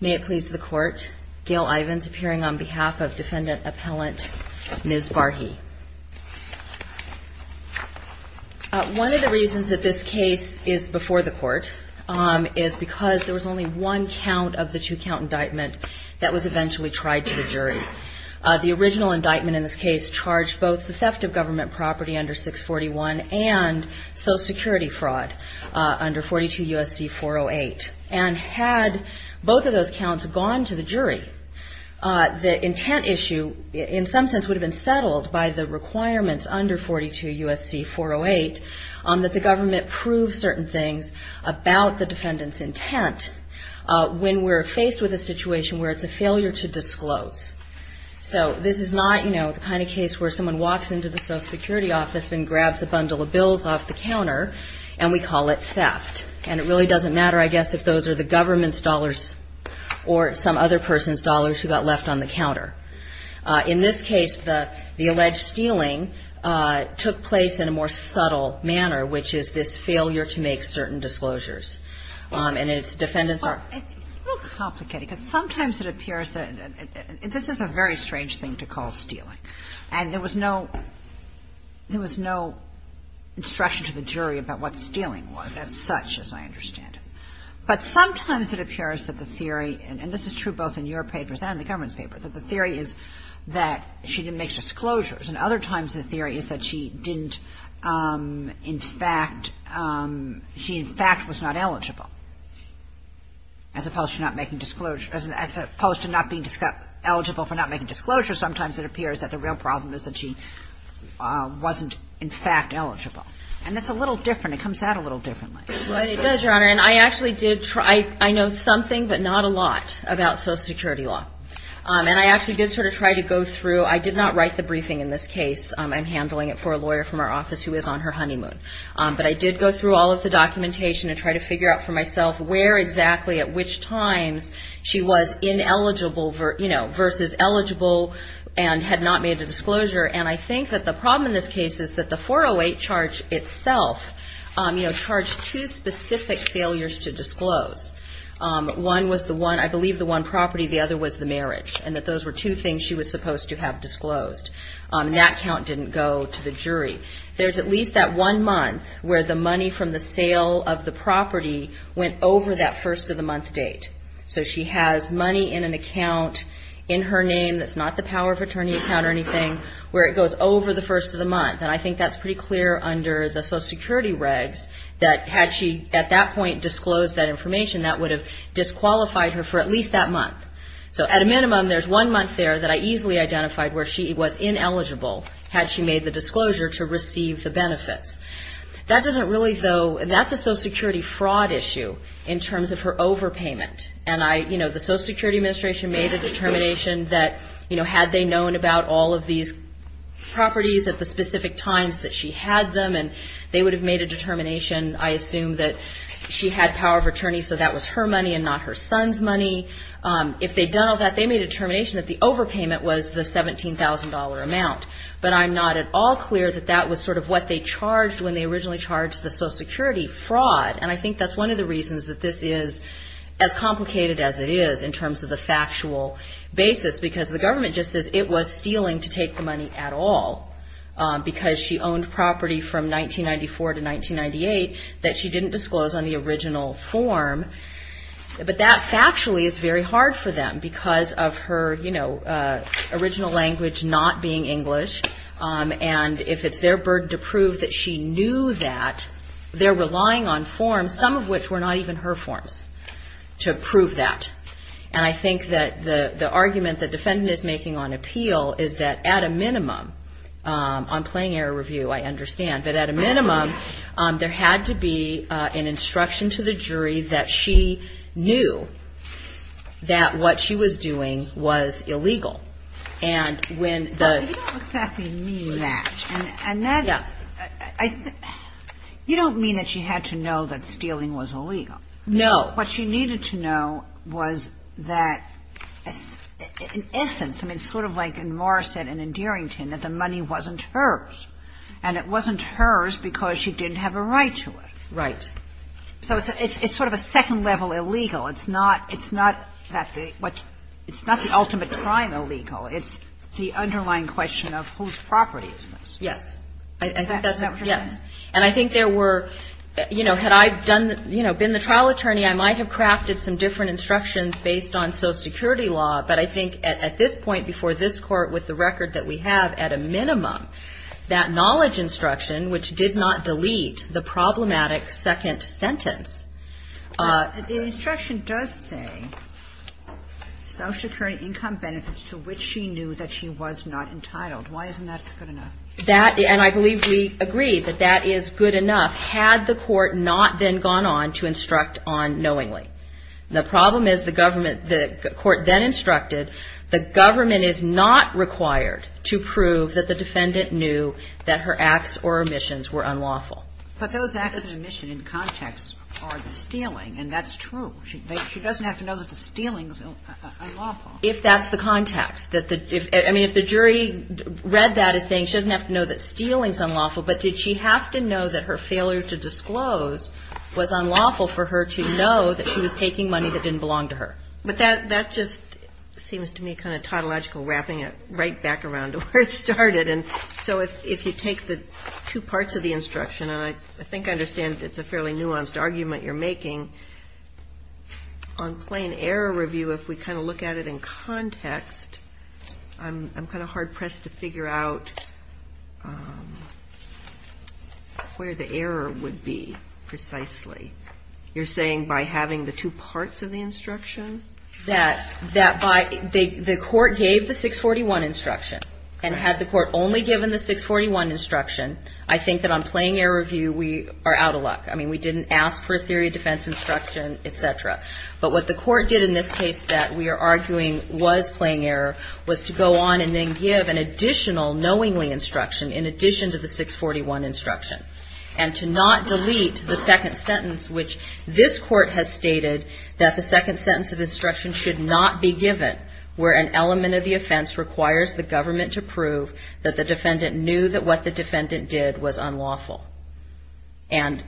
May it please the court, Gail Ivins, appearing on behalf of defendant appellant Ms. Barghi. One of the reasons that this case is before the court is because there was only one count of the two count indictment that was eventually tried to the jury. The original indictment in this case charged both the theft of government property under 641 and social security fraud under 42 U.S.C. 408. And had both of those counts gone to the jury, the intent issue in some sense would have been settled by the requirements under 42 U.S.C. 408 that the government prove certain things about the defendant's intent when we're faced with a situation where it's a failure to disclose. So this is not, you know, the kind of case where someone walks into the social security office and grabs a bundle of bills off the counter, and we call it theft. And it really doesn't matter, I guess, if those are the government's dollars or some other person's dollars who got left on the counter. In this case, the alleged stealing took place in a more subtle manner, which is this failure to make certain disclosures. And its defendants are – It's a little complicated because sometimes it appears that – and this is a very strange thing to call stealing. And there was no – there was no instruction to the jury about what stealing was as such, as I understand it. But sometimes it appears that the theory – and this is true both in your papers and in the government's paper – that the theory is that she didn't make disclosures. And other times the theory is that she didn't – in fact – she, in fact, was not eligible. As opposed to not making – as opposed to not being eligible for not making disclosures, sometimes it appears that the real problem is that she wasn't, in fact, eligible. And that's a little different. It comes out a little differently. Well, it does, Your Honor. And I actually did try – I know something but not a lot about social security law. And I actually did sort of try to go through – I did not write the briefing in this case. I'm handling it for a lawyer from our office who is on her honeymoon. But I did go through all of the documentation and try to figure out for myself where exactly, at which times she was ineligible versus eligible and had not made a disclosure. And I think that the problem in this case is that the 408 charge itself charged two specific failures to disclose. One was the one – I believe the one property. The other was the marriage. And that those were two things she was supposed to have disclosed. And that count didn't go to the jury. There's at least that one month where the money from the sale of the property went over that first-of-the-month date. So she has money in an account in her name that's not the power of attorney account or anything, where it goes over the first-of-the-month. And I think that's pretty clear under the Social Security regs that had she at that point disclosed that information, that would have disqualified her for at least that month. So at a minimum, there's one month there that I easily identified where she was ineligible, had she made the disclosure to receive the benefits. That doesn't really, though – that's a Social Security fraud issue in terms of her overpayment. And I – you know, the Social Security Administration made a determination that, you know, had they known about all of these properties at the specific times that she had them, and they would have made a determination, I assume, that she had power of attorney, so that was her money and not her son's money. If they'd done all that, they made a determination that the overpayment was the $17,000 amount. But I'm not at all clear that that was sort of what they charged when they originally charged the Social Security fraud. And I think that's one of the reasons that this is as complicated as it is in terms of the factual basis, because the government just says it was stealing to take the money at all, because she owned property from 1994 to 1998 that she didn't disclose on the original form. But that factually is very hard for them because of her, you know, original language not being English. And if it's their burden to prove that she knew that, they're relying on forms, some of which were not even her forms, to prove that. And I think that the argument that defendant is making on appeal is that, at a minimum, on plain error review, I understand, but at a minimum, there had to be an instruction to the jury that she knew that what she was doing was illegal. And when the... But you don't exactly mean that. Yeah. You don't mean that she had to know that stealing was illegal. No. What she needed to know was that, in essence, I mean, sort of like in Morrisett and in Derington, that the money wasn't hers. And it wasn't hers because she didn't have a right to it. Right. So it's sort of a second-level illegal. It's not that the ultimate crime illegal. It's the underlying question of whose property is this. Yes. Is that what you're saying? Yes. And I think there were, you know, had I been the trial attorney, I might have crafted some different instructions based on Social Security law. But I think at this point, before this Court, with the record that we have, at a minimum, that knowledge instruction, which did not delete the problematic second sentence... The instruction does say, Social Security income benefits to which she knew that she was not entitled. Why isn't that good enough? That, and I believe we agree that that is good enough, had the Court not then gone on to instruct on knowingly. The problem is the Government, the Court then instructed, the Government is not required to prove that the defendant knew that her acts or omissions were unlawful. But those acts and omissions in context are the stealing, and that's true. She doesn't have to know that the stealing is unlawful. If that's the context. I mean, if the jury read that as saying, she doesn't have to know that stealing is unlawful, but did she have to know that her failure to disclose was unlawful for her to know that she was taking money that didn't belong to her? But that just seems to me kind of tautological wrapping it right back around to where it started. And so if you take the two parts of the instruction, and I think I understand it's a fairly nuanced argument you're making, on plain error review, if we kind of look at it in context, I'm kind of hard pressed to figure out where the error would be precisely. You're saying by having the two parts of the instruction? That by, the Court gave the 641 instruction, and had the Court only given the 641 instruction, I think that on plain error review, we are out of luck. I mean, we didn't ask for a theory of defense instruction, et cetera. But what the Court did in this case that we are arguing was plain error, was to go on and then give an additional knowingly instruction, in addition to the 641 instruction. And to not delete the second sentence, which this Court has stated that the second sentence of instruction should not be given, where an element of the offense requires the government to prove that the defendant knew that what the defendant did was unlawful. And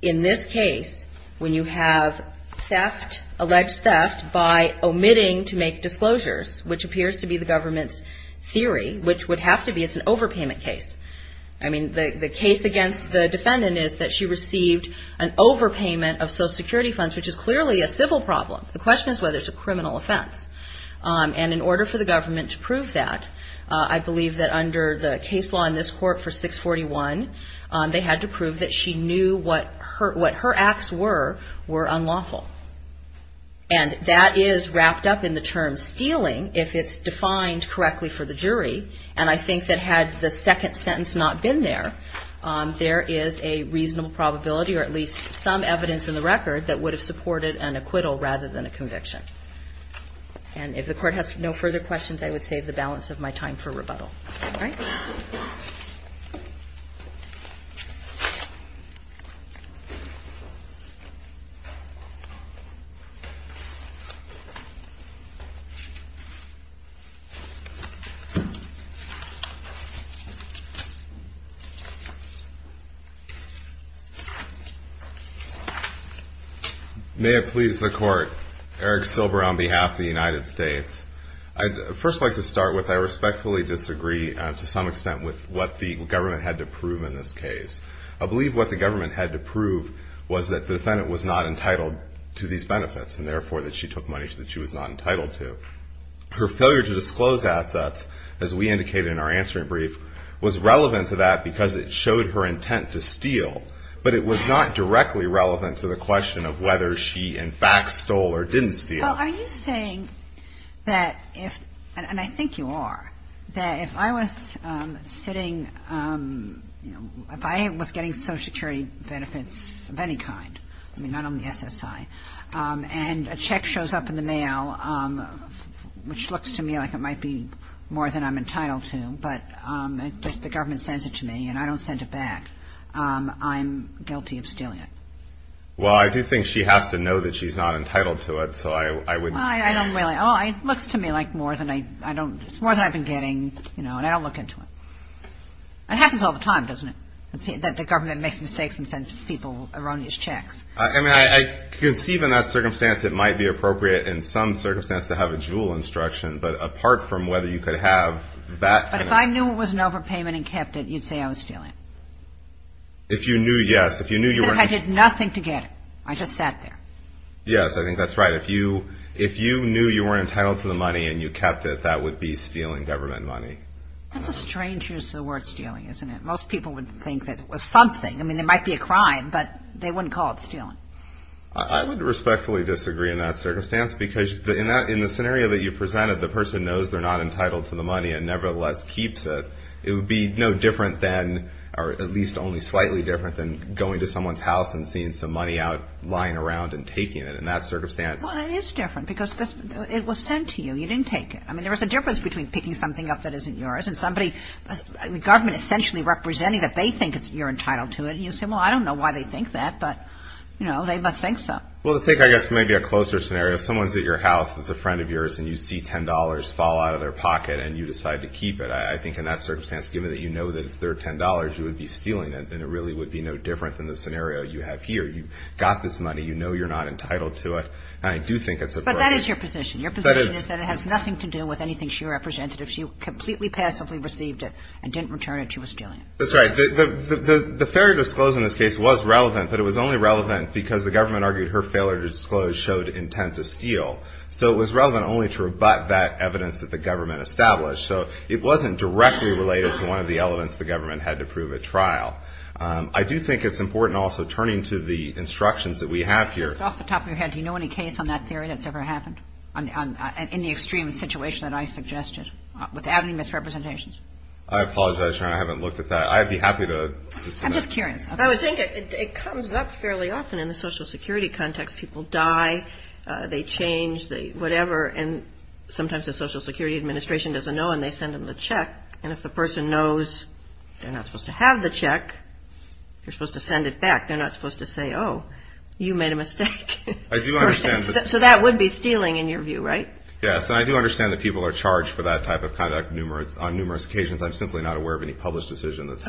in this case, when you have theft, alleged theft by omitting to make disclosures, which appears to be the government's theory, which would have to be, it's an overpayment case. I mean, the case against the defendant is that she received an overpayment of Social Security funds, which is clearly a civil problem. The question is whether it's a criminal offense. And in order for the government to prove that, I believe that under the case law in this Court for 641, they had to prove that she knew what her acts were, were unlawful. And that is wrapped up in the term stealing, if it's defined correctly for the jury. And I think that had the second sentence not been there, there is a reasonable probability, or at least some evidence in the record, that would have supported an acquittal rather than a conviction. And if the Court has no further questions, I would save the balance of my time for rebuttal. All right. May it please the Court. Eric Silver on behalf of the United States. I'd first like to start with I respectfully disagree to some extent with what the government had to prove in this case. I believe what the government had to prove was that the defendant was not entitled to these benefits, and therefore that she took money that she was not entitled to. Her failure to disclose assets, as we indicated in our answering brief, was relevant to that because it showed her intent to steal. But it was not directly relevant to the question of whether she, in fact, stole or didn't steal. Well, are you saying that if, and I think you are, that if I was sitting, you know, if I was getting Social Security benefits of any kind, I mean, not only SSI, and a check shows up in the mail, which looks to me like it might be more than I'm entitled to, but the government sends it to me and I don't send it back, I'm guilty of stealing it? Well, I do think she has to know that she's not entitled to it, so I wouldn't. Well, I don't really. It looks to me like it's more than I've been getting, you know, and I don't look into it. It happens all the time, doesn't it, that the government makes mistakes and sends people erroneous checks? I mean, I conceive in that circumstance it might be appropriate in some circumstance to have a JUUL instruction, but apart from whether you could have that. But if I knew it was an overpayment and kept it, you'd say I was stealing? If you knew, yes. If I did nothing to get it. I just sat there. Yes, I think that's right. If you knew you weren't entitled to the money and you kept it, that would be stealing government money. That's a strange use of the word stealing, isn't it? Most people would think that it was something. I mean, it might be a crime, but they wouldn't call it stealing. I would respectfully disagree in that circumstance because in the scenario that you presented, the person knows they're not entitled to the money and nevertheless keeps it. It would be no different than, or at least only slightly different, than going to someone's house and seeing some money out lying around and taking it. In that circumstance. Well, it is different because it was sent to you. You didn't take it. I mean, there was a difference between picking something up that isn't yours and somebody, the government essentially representing that they think you're entitled to it. And you say, well, I don't know why they think that, but, you know, they must think so. Well, to take, I guess, maybe a closer scenario, someone's at your house that's a friend of yours and you see $10 fall out of their pocket and you decide to keep it. I think in that circumstance, given that you know that it's their $10, you would be stealing it and it really would be no different than the scenario you have here. You've got this money. You know you're not entitled to it. And I do think it's appropriate. But that is your position. Your position is that it has nothing to do with anything she represented. If she completely passively received it and didn't return it, she was stealing it. That's right. The failure to disclose in this case was relevant, but it was only relevant because the government argued her failure to disclose showed intent to steal. So it was relevant only to rebut that evidence that the government established. So it wasn't directly related to one of the elements the government had to prove at trial. I do think it's important also turning to the instructions that we have here. Off the top of your head, do you know any case on that theory that's ever happened in the extreme situation that I suggested without any misrepresentations? I apologize, Your Honor. I haven't looked at that. I'd be happy to submit. I'm just curious. I would think it comes up fairly often in the Social Security context. People die. They change. Whatever. And sometimes the Social Security Administration doesn't know and they send them the check. And if the person knows they're not supposed to have the check, they're supposed to send it back. They're not supposed to say, oh, you made a mistake. I do understand. So that would be stealing in your view, right? Yes, and I do understand that people are charged for that type of conduct on numerous occasions. I'm simply not aware of any published decision that's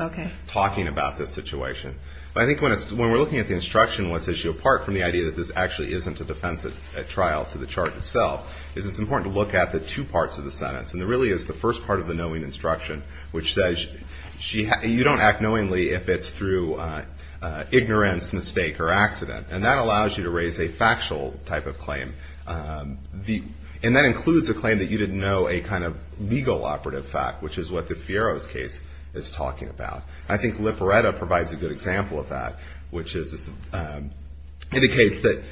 talking about this situation. But I think when we're looking at the instruction, what sets you apart from the idea that this actually isn't a defensive trial to the charge itself, is it's important to look at the two parts of the sentence. And there really is the first part of the knowing instruction, which says you don't act knowingly if it's through ignorance, mistake, or accident. And that allows you to raise a factual type of claim. And that includes a claim that you didn't know a kind of legal operative fact, which is what the Fierro's case is talking about. I think Lipporetta provides a good example of that, which indicates that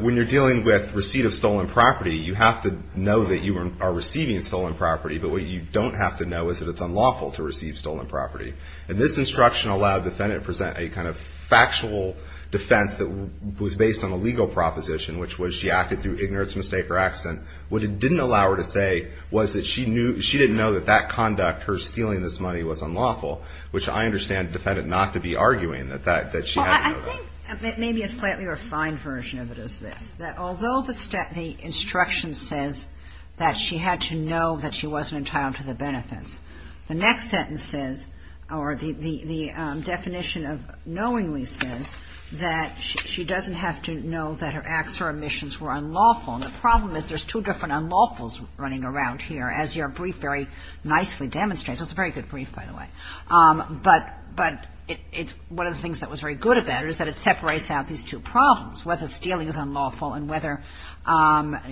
when you're dealing with receipt of stolen property, you have to know that you are receiving stolen property. But what you don't have to know is that it's unlawful to receive stolen property. And this instruction allowed the defendant to present a kind of factual defense that was based on a legal proposition, which was she acted through ignorance, mistake, or accident. What it didn't allow her to say was that she didn't know that that conduct, her stealing this money, was unlawful, which I understand the defendant not to be arguing that she had to know that. Well, I think maybe a slightly refined version of it is this, that although the instruction says that she had to know that she wasn't entitled to the benefits, the next sentence says, or the definition of knowingly says, that she doesn't have to know that her acts or omissions were unlawful. And the problem is there's two different unlawfuls running around here, as your brief very nicely demonstrates. It's a very good brief, by the way. But it's one of the things that was very good about it is that it separates out these two problems, whether stealing is unlawful and whether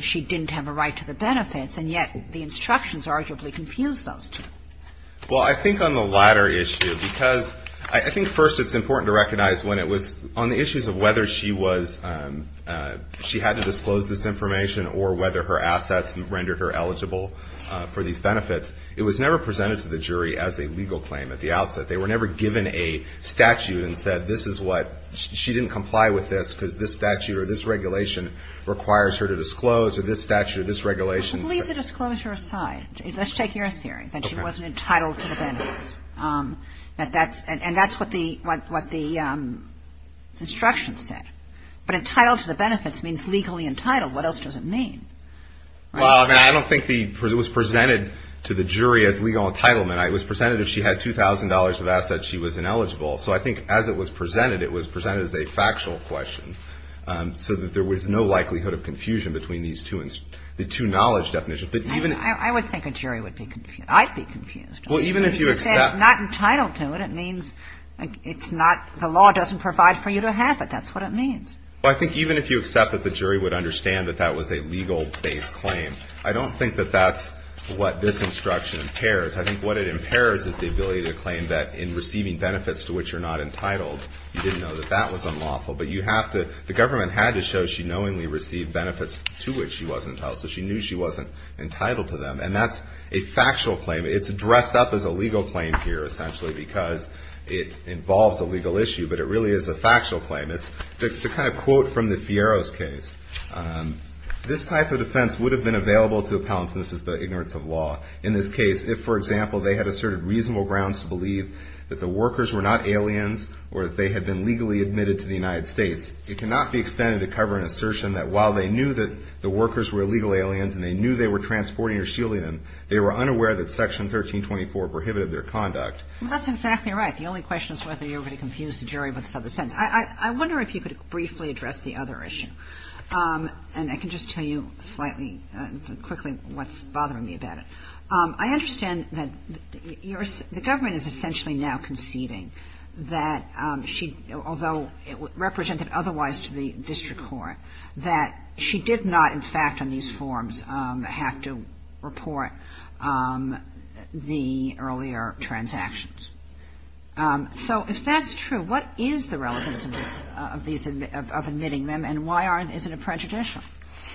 she didn't have a right to the benefits. And yet the instructions arguably confuse those two. Well, I think on the latter issue, because I think first it's important to recognize when it was on the issues of whether she was – she had to disclose this information or whether her assets rendered her eligible for these benefits, it was never presented to the jury as a legal claim at the outset. They were never given a statute and said this is what – she didn't comply with this because this statute or this regulation requires her to disclose or this statute or this regulation. Well, leave the disclosure aside. Let's take your theory, that she wasn't entitled to the benefits. And that's what the instruction said. But entitled to the benefits means legally entitled. What else does it mean? Well, I mean, I don't think it was presented to the jury as legal entitlement. It was presented as she had $2,000 of assets, she was ineligible. So I think as it was presented, it was presented as a factual question so that there was no likelihood of confusion between these two – the two knowledge definitions. I would think a jury would be – I'd be confused. Well, even if you accept – You said not entitled to it. It means it's not – the law doesn't provide for you to have it. That's what it means. Well, I think even if you accept that the jury would understand that that was a legal-based claim, I don't think that that's what this instruction impairs. I think what it impairs is the ability to claim that in receiving benefits to which you're not entitled, you didn't know that that was unlawful. But you have to – the government had to show she knowingly received benefits to which she wasn't entitled, so she knew she wasn't entitled to them. And that's a factual claim. It's dressed up as a legal claim here, essentially, because it involves a legal issue. But it really is a factual claim. It's the kind of quote from the Fierro's case. This type of defense would have been available to appellants, and this is the ignorance of law. In this case, if, for example, they had asserted reasonable grounds to believe that the workers were not aliens or that they had been legally admitted to the United States, it cannot be extended to cover an assertion that while they knew that the workers were illegal aliens and they knew they were transporting or shielding them, they were unaware that Section 1324 prohibited their conduct. Well, that's exactly right. The only question is whether you're going to confuse the jury with this other sentence. I wonder if you could briefly address the other issue. And I can just tell you slightly, quickly, what's bothering me about it. I understand that the government is essentially now conceding that she, although it represented otherwise to the district court, that she did not, in fact, on these forms have to report the earlier transactions. So if that's true, what is the relevance of this, of admitting them, and why is it a prejudicial?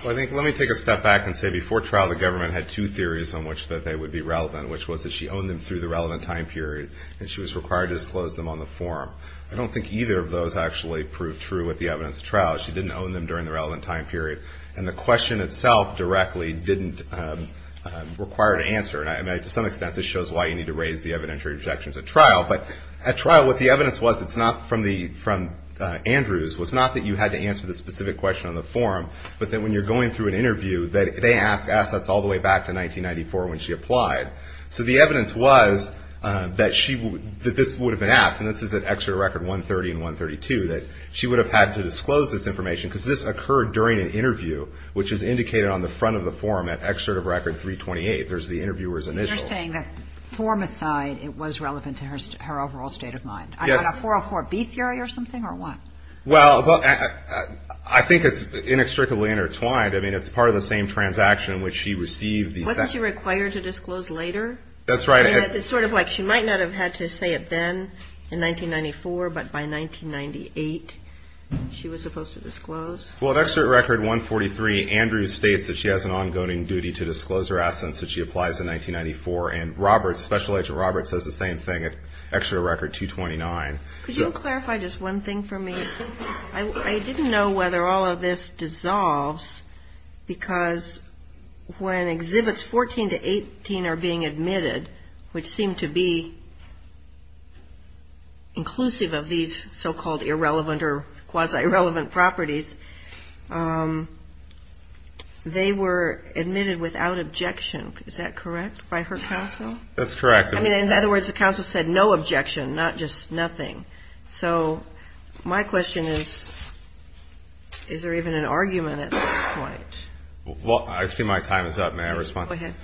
Well, I think, let me take a step back and say before trial, the government had two theories on which that they would be relevant, which was that she owned them through the relevant time period and she was required to disclose them on the form. I don't think either of those actually proved true with the evidence of trial. She didn't own them during the relevant time period. And the question itself directly didn't require an answer. And to some extent, this shows why you need to raise the evidentiary objections at trial. But at trial, what the evidence was, it's not from Andrews, was not that you had to answer the specific question on the form, but that when you're going through an interview, that they ask assets all the way back to 1994 when she applied. So the evidence was that this would have been asked, and this is at Excerpt of Record 130 and 132, that she would have had to disclose this information, because this occurred during an interview, which is indicated on the front of the form at Excerpt of Record 328. There's the interviewer's initials. And you're saying that, form aside, it was relevant to her overall state of mind. Yes. On a 404B theory or something, or what? Well, I think it's inextricably intertwined. I mean, it's part of the same transaction in which she received the... Wasn't she required to disclose later? That's right. I mean, it's sort of like she might not have had to say it then in 1994, but by 1998, she was supposed to disclose. Well, at Excerpt Record 143, Andrew states that she has an ongoing duty to disclose her assets that she applies in 1994, and Roberts, Special Agent Roberts, says the same thing at Excerpt of Record 229. Could you clarify just one thing for me? I didn't know whether all of this dissolves, because when Exhibits 14 to 18 are being admitted, which seem to be inclusive of these so-called irrelevant or quasi-irrelevant properties, they were admitted without objection. Is that correct by her counsel? That's correct. I mean, in other words, the counsel said no objection, not just nothing. So my question is, is there even an argument at this point? Well, I see my time is up. May I respond? Go ahead.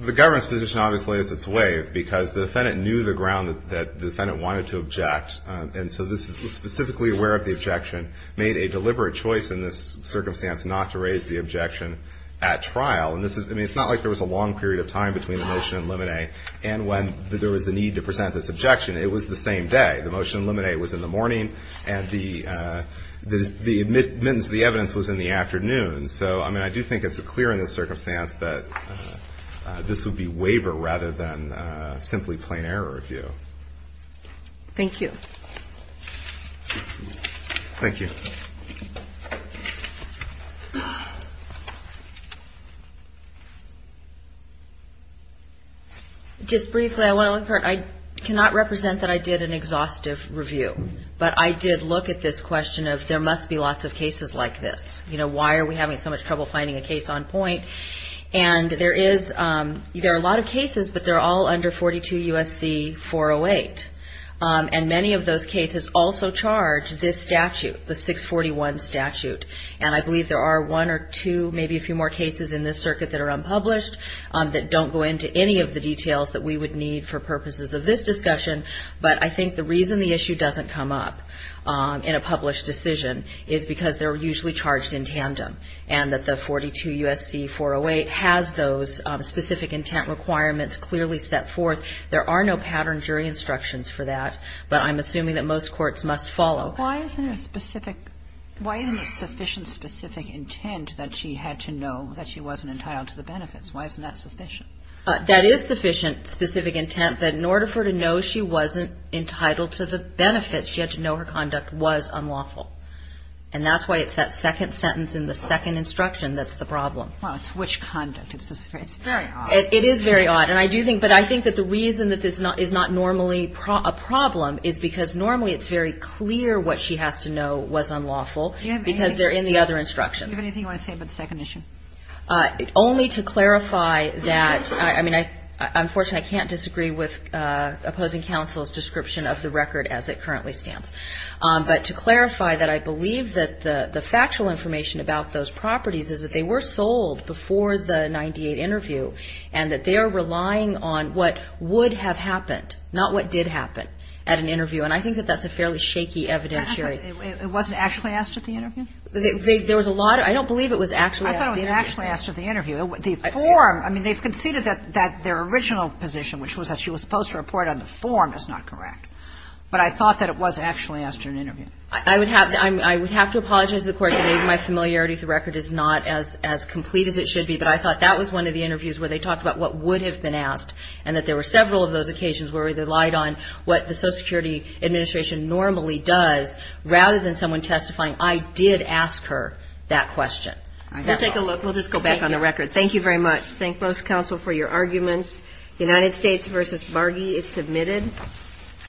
The government's position obviously is it's waived because the defendant knew the ground that the defendant wanted to object, and so this is specifically aware of the objection, made a deliberate choice in this circumstance not to raise the objection at trial. And this is ñ I mean, it's not like there was a long period of time between the motion and limine and when there was a need to present this objection. It was the same day. The motion and limine was in the morning, and the admittance of the evidence was in the afternoon. So, I mean, I do think it's clear in this circumstance that this would be waiver rather than simply plain error review. Thank you. Thank you. Just briefly, I want to look for ñ I cannot represent that I did an exhaustive review, but I did look at this question of there must be lots of cases like this. You know, why are we having so much trouble finding a case on point? And there is ñ there are a lot of cases, but they're all under 42 U.S.C. 408, and many of those cases also charge this statute, the 641 statute. And I believe there are one or two, maybe a few more cases in this circuit that are unpublished that don't go into any of the details that we would need for purposes of this discussion, but I think the reason the issue doesn't come up in a published decision is because they're usually charged in tandem, and that the 42 U.S.C. 408 has those specific intent requirements clearly set forth. There are no pattern jury instructions for that, but I'm assuming that most courts must follow. Why isn't there a specific ñ why isn't there sufficient specific intent that she had to know that she wasn't entitled to the benefits? Why isn't that sufficient? That is sufficient specific intent, but in order for her to know she wasn't entitled to the benefits, she had to know her conduct was unlawful. And that's why it's that second sentence in the second instruction that's the problem. Well, it's which conduct. It's very odd. It is very odd. And I do think ñ but I think that the reason that this is not normally a problem is because normally it's very clear what she has to know was unlawful, because they're in the other instructions. Do you have anything you want to say about the second issue? Only to clarify that ñ I mean, unfortunately, I can't disagree with opposing counsel's description of the record as it currently stands. But to clarify that I believe that the factual information about those properties is that they were sold before the 98 interview, and that they are relying on what would have happened, not what did happen at an interview. And I think that that's a fairly shaky evidentiary. It wasn't actually asked at the interview? There was a lot ñ I don't believe it was actually asked at the interview. I thought it was actually asked at the interview. The form ñ I mean, they've conceded that their original position, which was that she was supposed to report on the form, is not correct. But I thought that it was actually asked at an interview. I would have to apologize to the Court today. My familiarity with the record is not as complete as it should be. But I thought that was one of the interviews where they talked about what would have been asked, and that there were several of those occasions where they relied on what the Social Security Administration normally does rather than someone testifying, I did ask her that question. We'll take a look. We'll just go back on the record. Thank you very much. Thank both counsel for your arguments. United States v. Bargy is submitted.